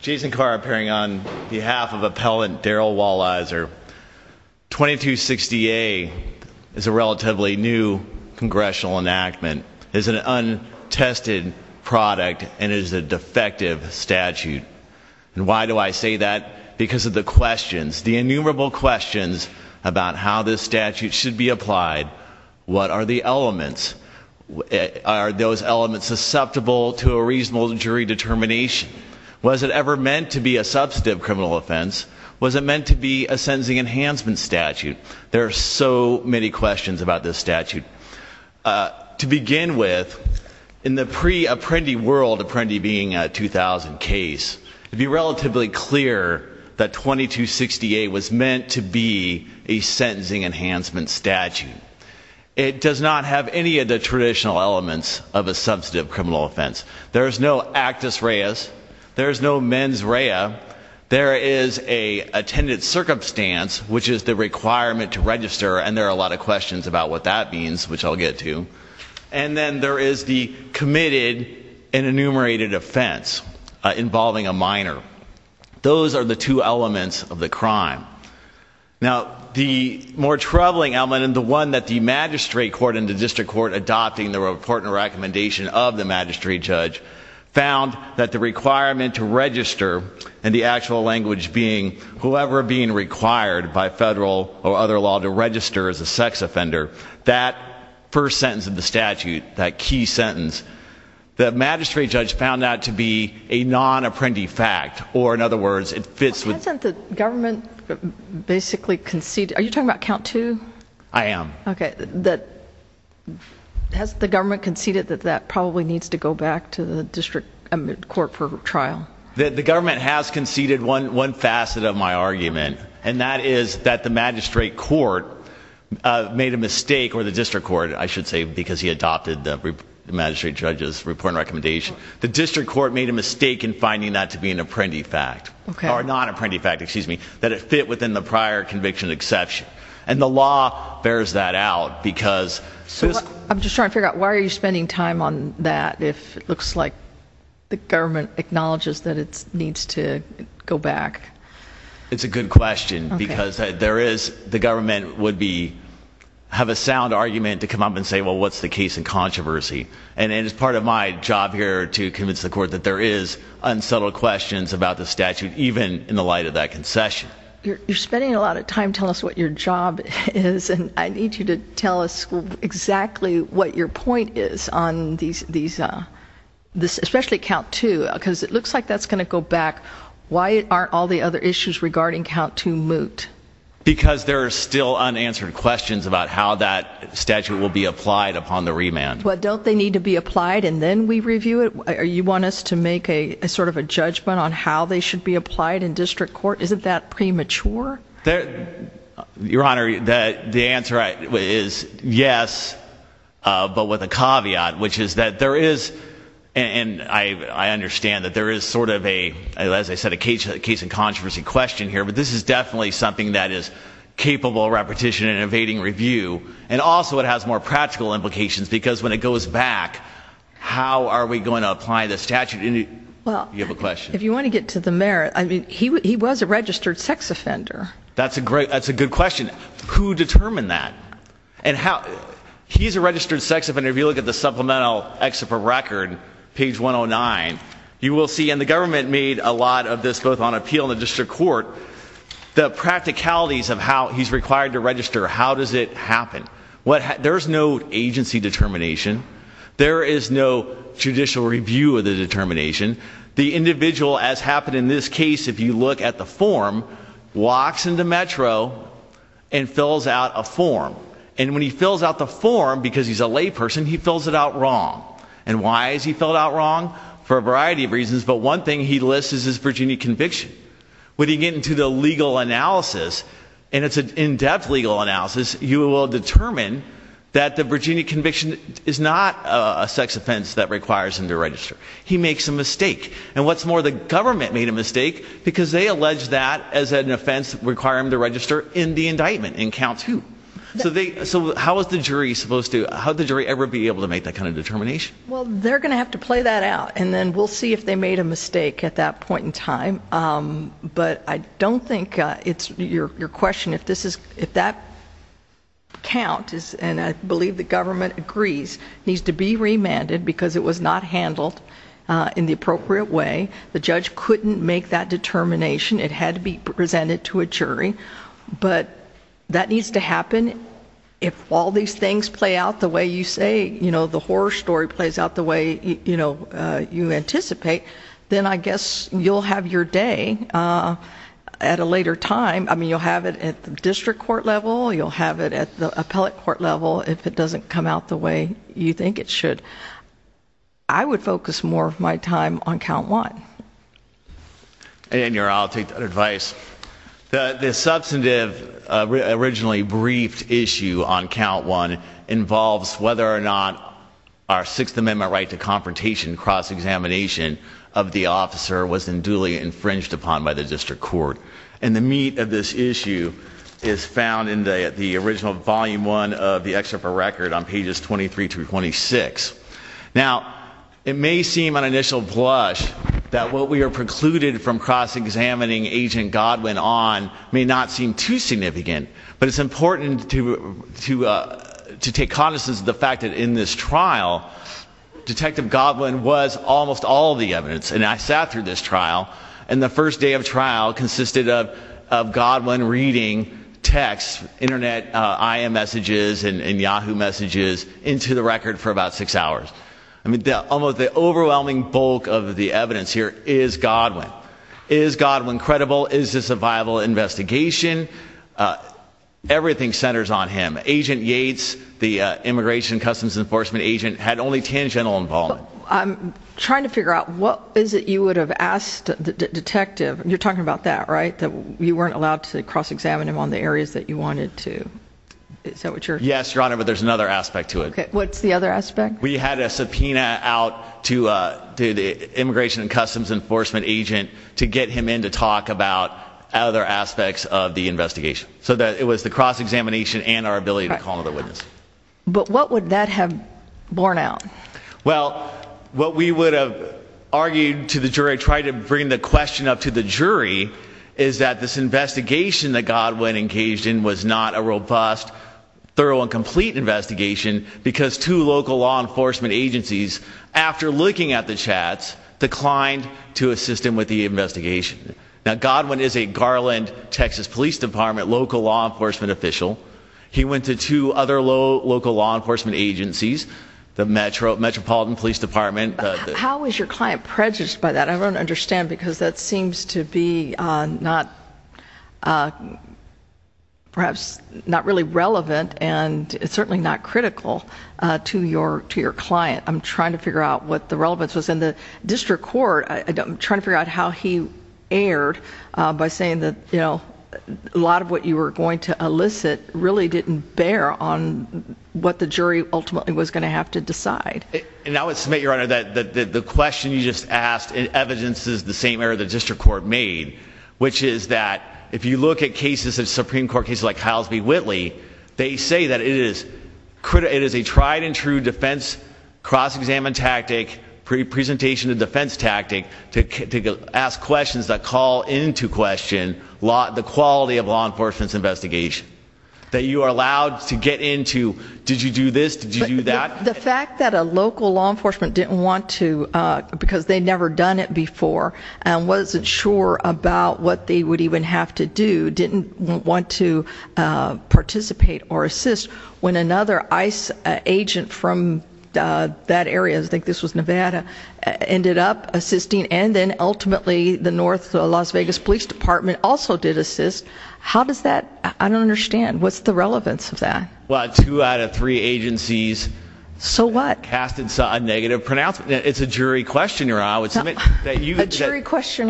Jason Carr appearing on behalf of appellant Darryl Walizer. 2260A is a relatively new congressional enactment. It is an untested product and is a defective statute. And why do I say that? Because of the questions, the innumerable questions about how this statute should be applied. What are the elements? Are those elements susceptible to a reasonable jury determination? Was it ever meant to be a substantive criminal offense? Was it meant to be a sentencing enhancement statute? There are so many questions about this statute. To begin with, in the pre-Apprendi world, Apprendi being a 2000 case, to be relatively clear that 2260A was meant to be a sentencing enhancement statute. It does not have any of the traditional elements of a substantive criminal offense. There's no actus reus. There's no mens rea. There is a attendant circumstance, which is the requirement to register, and there are a lot of questions about what that means, which I'll get to. And then there is the committed and enumerated offense involving a minor. Those are the two elements of the crime. Now the more troubling element and the one that the magistrate court and the district court adopting the report and recommendation of the magistrate judge found that the requirement to register, and the actual language being whoever being required by federal or other law to register as a sex offender, that first sentence of the statute, that key sentence, the magistrate judge found that to be a non-Apprendi fact, or in other words, it fits with... Well, hasn't the government basically conceded, are you talking about count two? I am. Okay, that... Has the government conceded that that probably needs to go back to the district court for trial? The government has conceded one one facet of my argument, and that is that the magistrate court made a mistake, or the district court, I should say, because he adopted the magistrate judge's report and recommendation. The district court made a mistake in finding that to be an Apprendi fact, or a non-Apprendi fact, excuse me, that it fit within the prior conviction exception, and the law bears that out, because... So I'm just trying to figure out, why are you spending time on that, if it looks like the government acknowledges that it needs to go back? It's a good question, because there is, the government would be, have a sound argument to come up and say, well, what's the case in controversy, and it is part of my job here to convince the court that there is unsettled questions about the statute, even in the light of that concession. You're spending a lot of time telling us what your job is, and I need you to tell us exactly what your point is on these, especially count two, because it looks like that's going to go back. Why aren't all the other issues regarding count two moot? Because there are still unanswered questions about how that statute will be applied upon the remand. Well, don't they need to be applied and then we review it? You want us to make a sort of a judgment on how they should be applied in premature? Your Honor, the answer is yes, but with a caveat, which is that there is, and I understand that there is sort of a, as I said, a case in controversy question here, but this is definitely something that is capable of repetition and evading review, and also it has more practical implications, because when it goes back, how are we going to apply the statute? Well, if you want to get to the mayor, I mean, he was a registered sex offender. That's a great, that's a good question. Who determined that? And how, he's a registered sex offender, if you look at the supplemental excerpt from record, page 109, you will see, and the government made a lot of this both on appeal and the district court, the practicalities of how he's required to register, how does it happen? There's no agency determination. There is no judicial review of the determination. The individual, as happened in this case, if you look at the form, walks into Metro and fills out a form, and when he fills out the form, because he's a layperson, he fills it out wrong. And why is he filled out wrong? For a variety of reasons, but one thing he lists is his Virginia conviction. When you get into the legal analysis, and it's an in-depth legal analysis, you will determine that the Virginia conviction is not a sex offense that requires him to register. He makes a mistake. And what's more, the government made a mistake, because they allege that as an offense requiring him to register in the indictment, in count two. So they, so how is the jury supposed to, how would the jury ever be able to make that kind of determination? Well, they're going to have to play that out, and then we'll see if they made a mistake at that point in time, but I don't think it's, your question, if this is, if that count is, and I believe the in the appropriate way, the judge couldn't make that determination. It had to be presented to a jury, but that needs to happen. If all these things play out the way you say, you know, the horror story plays out the way, you know, you anticipate, then I guess you'll have your day at a later time. I mean, you'll have it at the district court level, you'll have it at the appellate court level, if it doesn't come out the way you think it should. I would focus more of my time on count one. And your, I'll take that advice. The substantive, originally briefed issue on count one involves whether or not our Sixth Amendment right to confrontation cross-examination of the officer was in duly infringed upon by the district court, and the meat of this issue is found in the original volume one of the excerpt for record on pages 23 through 26. Now, it may seem on initial blush that what we are precluded from cross-examining agent Godwin on may not seem too significant, but it's important to, to, to take cognizance of the fact that in this trial, Detective Godwin was almost all the evidence, and I sat through this trial, and the first day of trial consisted of Godwin reading text, internet IM messages, and Yahoo messages into the record for about six hours. I mean, almost the overwhelming bulk of the evidence here is Godwin. Is Godwin credible? Is this a viable investigation? Everything centers on him. Agent Yates, the Immigration and Customs Enforcement agent, had only tangential involvement. I'm trying to figure out what is it you would have asked the detective, you're talking about that, right? That you weren't allowed to cross-examine him on the areas that you wanted to. Is that what you're...? Yes, Your Honor, but there's another aspect to it. Okay, what's the other aspect? We had a subpoena out to, uh, to the Immigration and Customs Enforcement agent to get him in to talk about other aspects of the investigation, so that it was the cross-examination and our ability to call another witness. But what would that have borne out? Well, what we would have argued to the jury, tried to bring the jury, is that this investigation that Godwin engaged in was not a robust, thorough, and complete investigation, because two local law enforcement agencies, after looking at the chats, declined to assist him with the investigation. Now, Godwin is a Garland, Texas Police Department local law enforcement official. He went to two other local law enforcement agencies, the Metro, Metropolitan Police Department... How is your client prejudged by that? I think it's going to be, uh, not, uh, perhaps not really relevant, and it's certainly not critical, uh, to your, to your client. I'm trying to figure out what the relevance was in the district court. I'm trying to figure out how he erred by saying that, you know, a lot of what you were going to elicit really didn't bear on what the jury ultimately was going to have to decide. And I would submit, Your Honor, that the question you just asked, it evidences the same error the district court made, which is that, if you look at cases of Supreme Court cases like Hiles v. Whitley, they say that it is, it is a tried-and-true defense cross-examine tactic, pre-presentation of defense tactic, to ask questions that call into question law, the quality of law enforcement's investigation. That you are allowed to get into, did you do this, did you do that? The fact that a local law enforcement didn't want to, uh, because they'd never done it before, and wasn't sure about what they would even have to do, didn't want to participate or assist, when another ICE agent from that area, I think this was Nevada, ended up assisting, and then ultimately the North Las Vegas Police Department also did assist. How does that, I don't understand, what's the relevance of that? Well, two out of three agencies... So what? Casted a negative pronouncement. It's a jury question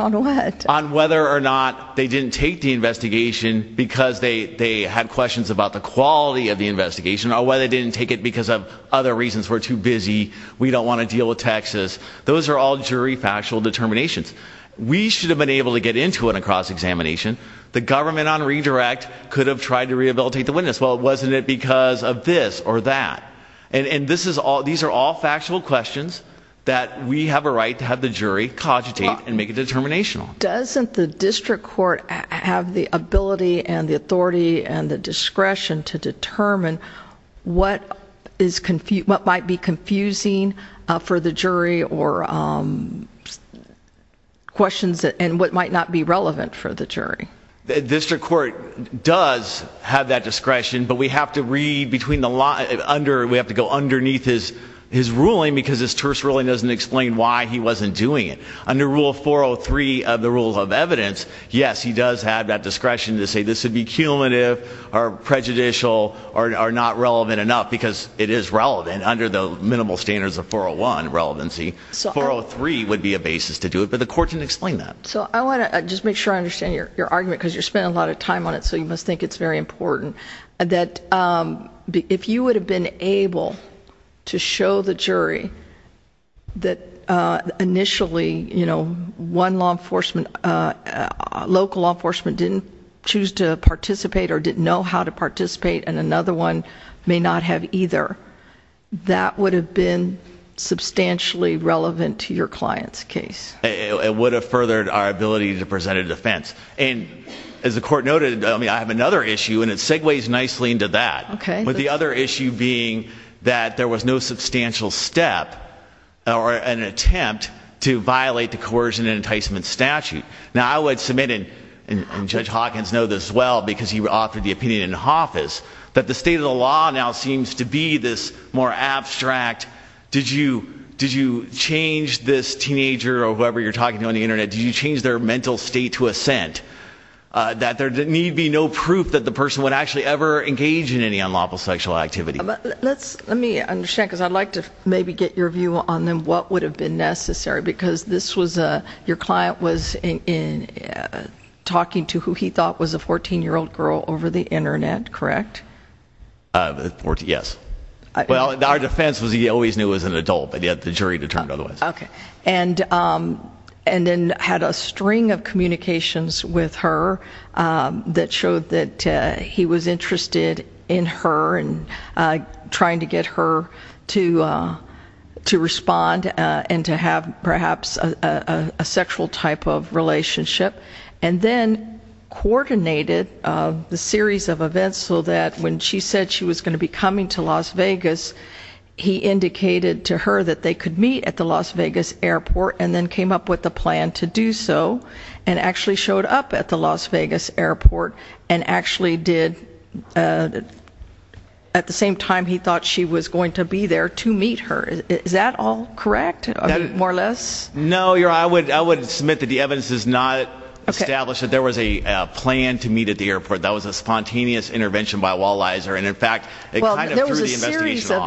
on what? On whether or not they didn't take the investigation because they, they had questions about the quality of the investigation, or whether they didn't take it because of other reasons, we're too busy, we don't want to deal with taxes. Those are all jury factual determinations. We should have been able to get into it in a cross-examination. The government on redirect could have tried to rehabilitate the witness. Well, wasn't it because of this or that? And, and this is all, these are all factual questions that we have a right to have the jury cogitate and make it determinational. Doesn't the district court have the ability and the authority and the discretion to determine what is confused, what might be confusing for the jury or questions that, and what might not be relevant for the jury? The district court does have that discretion, but we have to read between the line, under, we have to go underneath his, his ruling because his terse ruling doesn't explain why he wasn't doing it. Under Rule 403 of the Rules of Evidence, yes, he does have that discretion to say this would be cumulative or prejudicial or not relevant enough because it is relevant under the minimal standards of 401 relevancy. So 403 would be a basis to do it, but the court didn't explain that. So I want to just make sure I understand your, your argument because you're spending a lot of time on it, so you must think it's very important, that if you would have been able to show the jury that initially, you know, one law enforcement, local law enforcement didn't choose to participate or didn't know how to participate and another one may not have either, that would have been substantially relevant to your client's case. It would have furthered our ability to present a defense. And as the court noted, I mean, I have another issue and it segues nicely into that. Okay. But the other issue being that there was no substantial step or an attempt to violate the coercion and enticement statute. Now I would submit, and Judge Hawkins know this well because he offered the opinion in office, that the state of the law now seems to be this more abstract, did you, did you change this teenager or whoever you're talking to on the internet, did you change their mental state to assent? That there need be no proof that the person would actually ever engage in any unlawful sexual activity. Let's, let me understand, because I'd like to maybe get your view on then what would have been necessary, because this was a, your client was in talking to who he thought was a 14 year old girl over the internet, correct? Yes. Well, our defense was he always knew it was an adult, but yet the jury determined otherwise. Okay. And, and then had a string of communications with her that showed that he was interested in her and trying to get her to, to respond and to have perhaps a sexual type of relationship, and then coordinated the series of events so that when she said she was going to be coming to Las Vegas, he indicated to her that they could meet at the Las Vegas Airport and then came up with a plan to do so and actually showed up at the Las Vegas Airport and actually did, at the same time he thought she was going to be there to meet her. Is that all correct, more or less? No, your, I would, I would submit that the evidence does not establish that there was a plan to meet at the airport. That was a spontaneous intervention by a wall-eiser, and in fact, it kind of threw the investigation off. There was a series of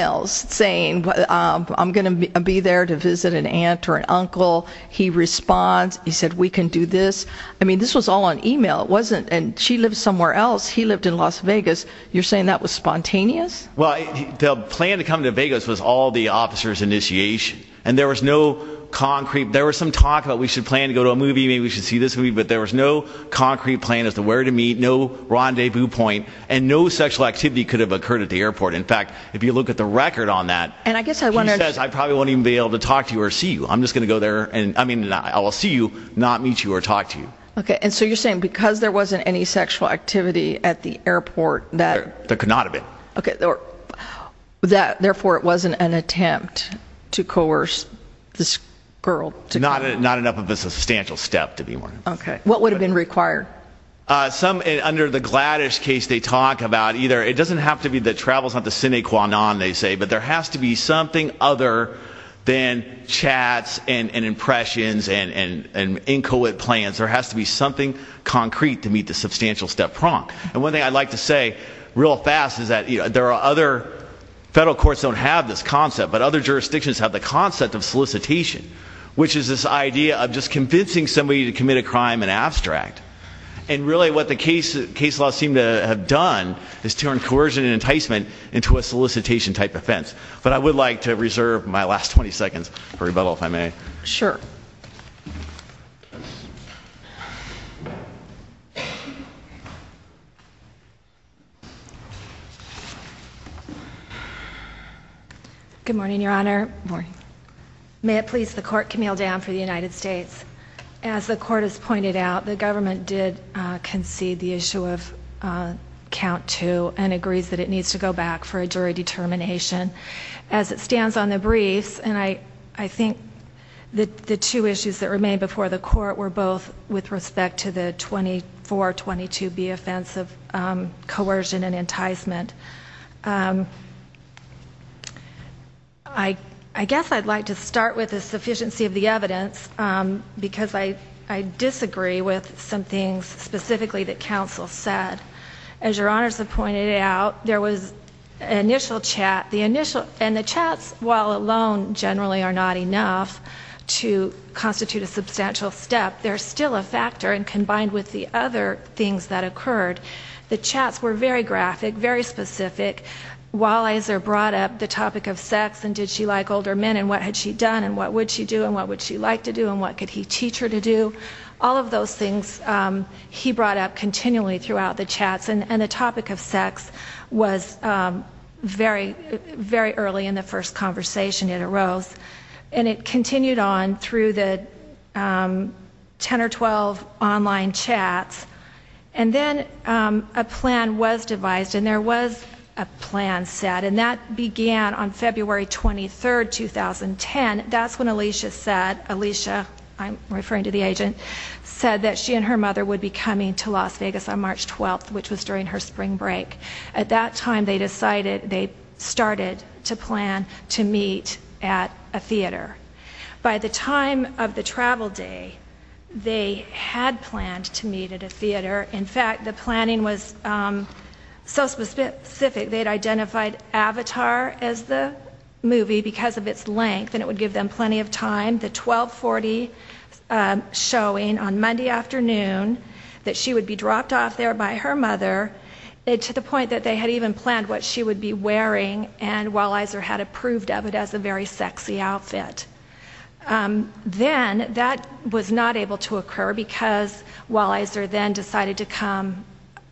emails saying, I'm gonna be there to visit an aunt or an uncle. He responds. He said, we can do this. I mean, this was all on email. It wasn't, and she lived somewhere else. He lived in Las Vegas. You're saying that was spontaneous? Well, the plan to come to Vegas was all the officer's initiation, and there was no concrete, there was some talk about we should plan to go to a movie, maybe we should see this movie, but there was no concrete plan as to where to meet, no rendezvous point, and no sexual activity could have occurred at the airport. In fact, if you look at the record on that... And I guess I wonder... He says, I probably won't even be able to talk to you or see you. I'm just gonna go there, and I mean, I will see you, not meet you or talk to you. Okay, and so you're saying because there wasn't any sexual activity at the airport, that... There could not have been. Okay, therefore it wasn't an attempt to coerce this girl. Not enough of a substantial step to be one. Okay, what would have been required? Some, under the Gladys case, they talk about either, it doesn't have to be the travels, not the sine qua non, they say, but there has to be something other than chats and impressions and inchoate plans. There has to be something concrete to meet the substantial step prong. And one thing I'd like to say, real fast, is that, you know, there are other... Federal courts don't have this concept, but other jurisdictions have the concept of solicitation, which is this idea of just convincing somebody to commit a crime in abstract. And really what the case, case laws seem to have done is turn coercion and enticement into a last 20 seconds for rebuttal, if I may. Sure. Good morning, Your Honor. Good morning. May it please the Court, Camille Dam for the United States. As the Court has pointed out, the government did concede the issue of count two and agrees that it needs to go back for a jury determination. As it relates, and I think the two issues that remain before the Court were both with respect to the 2422B offense of coercion and enticement. I guess I'd like to start with the sufficiency of the evidence, because I disagree with some things specifically that counsel said. As Your Honors have pointed out, there was initial chat. The initial... And the chats, while alone, generally are not enough to constitute a substantial step, they're still a factor. And combined with the other things that occurred, the chats were very graphic, very specific. Walliser brought up the topic of sex, and did she like older men, and what had she done, and what would she do, and what would she like to do, and what could he teach her to do. All of those things he brought up continually throughout the very, very early in the first conversation it arose. And it continued on through the ten or twelve online chats. And then a plan was devised, and there was a plan set, and that began on February 23rd, 2010. That's when Alicia said, Alicia, I'm referring to the agent, said that she and her mother would be coming to Las Vegas on March 12th, which was during her spring break. At that time they decided, they started to plan to meet at a theater. By the time of the travel day, they had planned to meet at a theater. In fact, the planning was so specific, they had identified Avatar as the movie, because of its length, and it would give them plenty of time. The 1240 showing on Monday afternoon, that she would be dropped off there by her mother, to the point that they had even planned what she would be wearing, and Wellizer had approved of it as a very sexy outfit. Then, that was not able to occur, because Wellizer then decided to come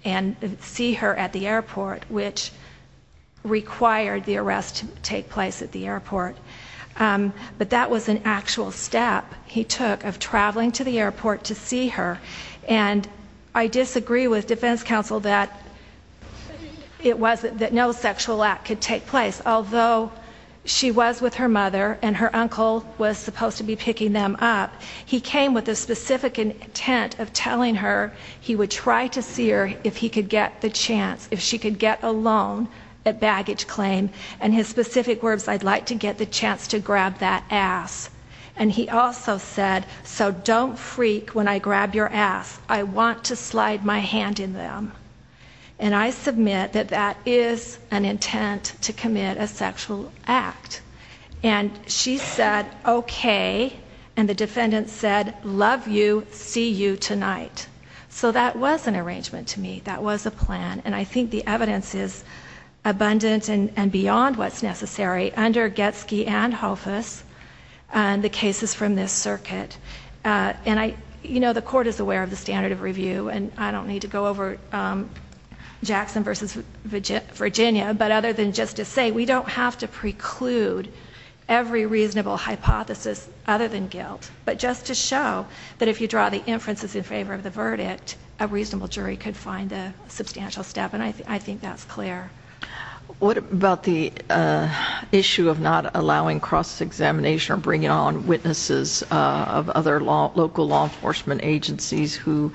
and see her at the airport, which required the arrest to take place at the airport. But that was an actual step he took, of traveling to the airport to see her. And I disagree with defense counsel that it wasn't, that no sexual act could take place. Although she was with her mother, and her uncle was supposed to be picking them up, he came with a specific intent of telling her he would try to see her if he could get the chance, if she could get a loan, a baggage claim. And his specific words, I'd like to get the chance to grab that ass. And he also said, so don't freak when I grab your ass. I want to slide my hand in them. And I submit that that is an intent to commit a sexual act. And she said, okay. And the defendant said, love you, see you tonight. So that was an arrangement to me. That was a plan. And I think the evidence is abundant and beyond what's necessary under Getsky and Hofus, and the cases from this circuit. And I, you know, the court is aware of the standard of review, and I don't need to go over Jackson versus Virginia, but other than just to say, we don't have to preclude every reasonable hypothesis other than guilt. But just to show that if you draw the inferences in favor of the verdict, a reasonable jury could find a substantial step. And I think that's clear. What about the issue of not allowing cross examination or bringing on witnesses of other local law enforcement agencies who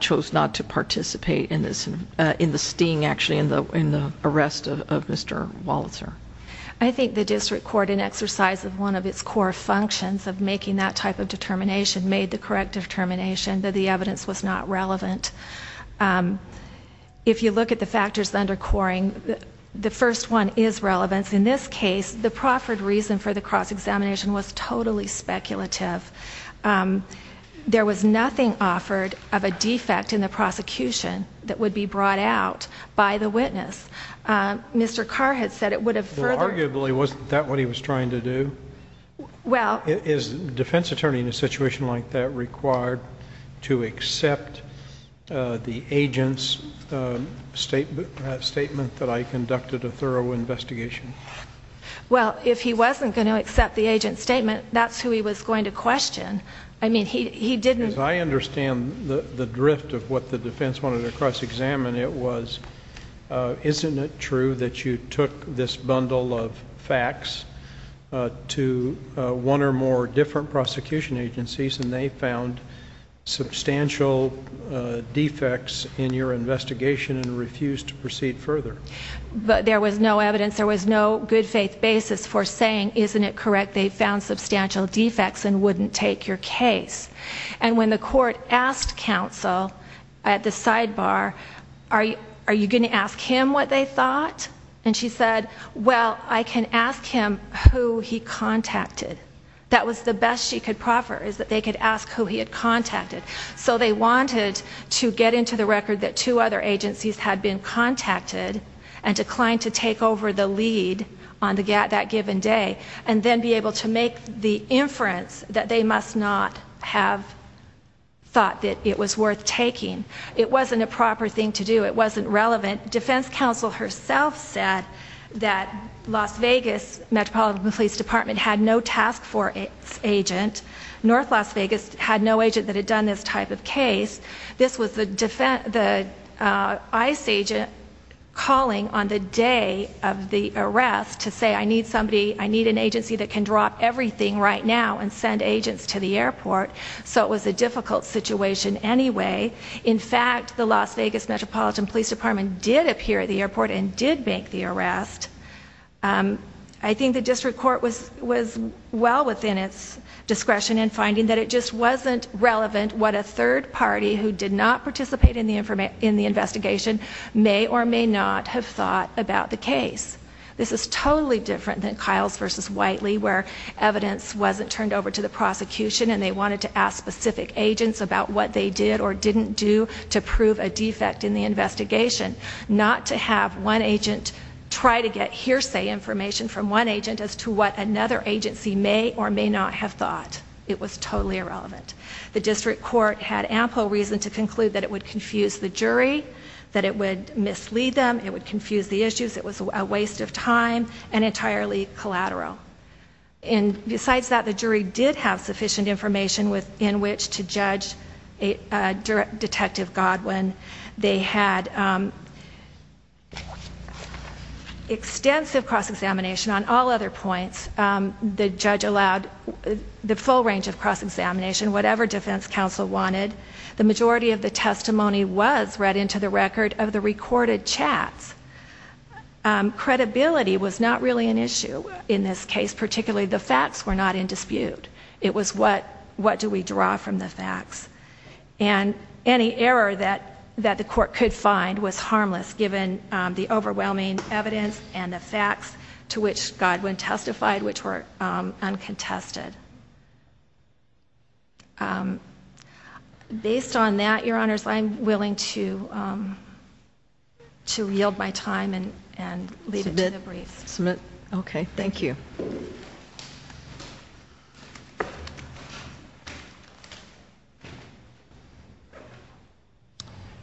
chose not to participate in this, in the sting, actually, in the arrest of Mr. Walitzer? I think the district court, in exercise of one of its core functions of making that type of determination, made the correct determination that the if you look at the factors under Coring, the first one is relevance. In this case, the proffered reason for the cross examination was totally speculative. There was nothing offered of a defect in the prosecution that would be brought out by the witness. Mr. Carr had said it would have... Well, arguably, wasn't that what he was trying to do? Well... Is a defense attorney in a situation like that required to accept the agent's statement that I conducted a thorough investigation? Well, if he wasn't going to accept the agent's statement, that's who he was going to question. I mean, he didn't... As I understand the drift of what the defense wanted to cross examine, it was Isn't it true that you took this bundle of facts to one or more different prosecution agencies and they found substantial defects in your investigation and refused to proceed further? There was no evidence. There was no good faith basis for saying, isn't it correct they found substantial defects and wouldn't take your case? And when the court asked counsel at the sidebar, are you going to ask him what they thought? And she said, well, I can ask him who he contacted. That was the best she could proffer, is that they could ask who he had contacted. So they wanted to get into the record that two other agencies had been contacted and declined to take over the lead on that given day and then be able to make the inference that they must not have thought that it was worth taking. It wasn't a proper thing to do. It wasn't relevant. Defense counsel herself said that Las Vegas Metropolitan Police Department had no task force agent. North Las Vegas had no agent that had done this type of case. This was the ICE agent calling on the day of the arrest to say, I need somebody, I need an agency that can drop everything right now and send agents to the airport. So it was a difficult situation anyway. In fact, the Las Vegas Metropolitan Police Department did appear at the airport and did make the arrest. I think the district court was well within its discretion in finding that it just wasn't relevant what a third party who did not participate in the investigation may or may not have thought about the case. This is totally different than Kyle's versus Whiteley, where evidence wasn't turned over to the prosecution and they wanted to ask specific agents about what they did or didn't do to prove a defect in the investigation. Not to have one agent try to get hearsay information from one agent as to what another agency may or may not have thought. It was totally irrelevant. The district court had ample reason to conclude that it would confuse the jury, that it would mislead them, it would confuse the issues, it was a waste of time and entirely collateral. And besides that, the jury did have sufficient information within which to judge Detective Godwin. They had extensive cross-examination on all other points. The judge allowed the full range of cross-examination, whatever defense counsel wanted. The majority of the credibility was not really an issue in this case, particularly the facts were not in dispute. It was what do we draw from the facts? And any error that that the court could find was harmless given the overwhelming evidence and the facts to which Godwin testified, which were uncontested. Based on that, Your Honor,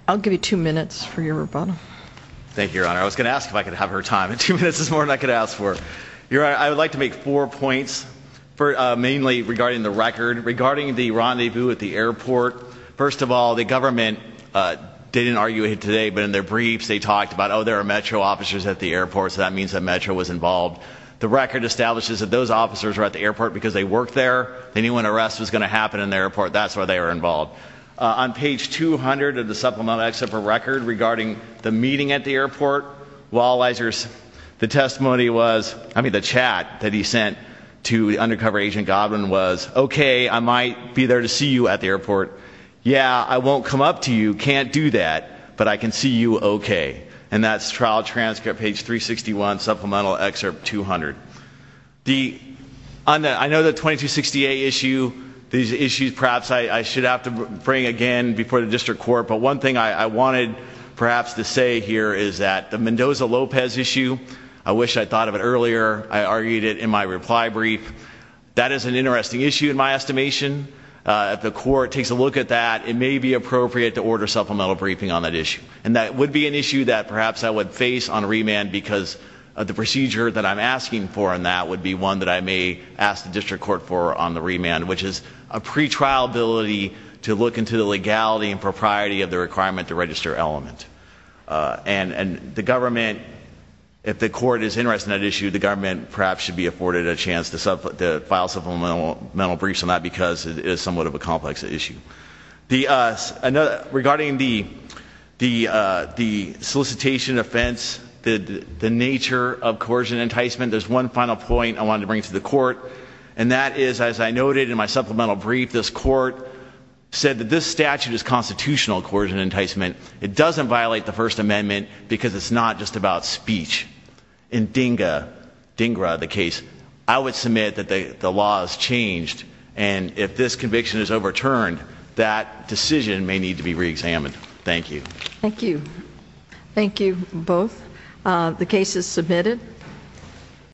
I'll give you two minutes for your rebuttal. Thank you, Your Honor. I was gonna ask if I could have her time. Two minutes is more than I could ask for. Your Honor, I would like to make four points, mainly regarding the record. Regarding the rendezvous at the airport, first of all, the government didn't argue it today, but in their briefs they talked about, oh there are Metro officers at the airport, so that means that Metro was involved. The record establishes that those officers were at the airport because they worked there. They knew when arrest was gonna happen in the airport, that's why they were involved. On page 200 of the supplemental except for record regarding the meeting at the airport, the testimony was, I mean the chat that he sent to the undercover agent Godwin was, okay, I might be there to see you at the airport. Yeah, I won't come up to you, can't do that, but I can see you, okay. And that's trial transcript, page 361, supplemental excerpt 200. I know the 2268 issue, these issues perhaps I should have to bring again before the district court, but one thing I wanted perhaps to say here is that the Mendoza-Lopez issue, I wish I thought of it earlier. I argued it in my reply brief. That is an interesting issue in my estimation. If the court takes a look at that, it may be appropriate to order supplemental briefing on that issue. And that would be an issue that perhaps I would face on remand because the procedure that I'm asking for in that would be one that I may ask the district court for on the remand, which is a pretrial ability to look into the legality and propriety of the requirement to register element. And the government, if the court is interested in that issue, the government perhaps should be afforded a chance to file supplemental briefs on that because it is somewhat of a solicitation offense. The nature of coercion enticement, there's one final point I wanted to bring to the court and that is, as I noted in my supplemental brief, this court said that this statute is constitutional coercion enticement. It doesn't violate the First Amendment because it's not just about speech. In DINGA, DINGRA the case, I would submit that the law has changed and if this conviction is overturned, that decision may need to be re-examined. Thank you. Thank you. Thank you both. The case is submitted.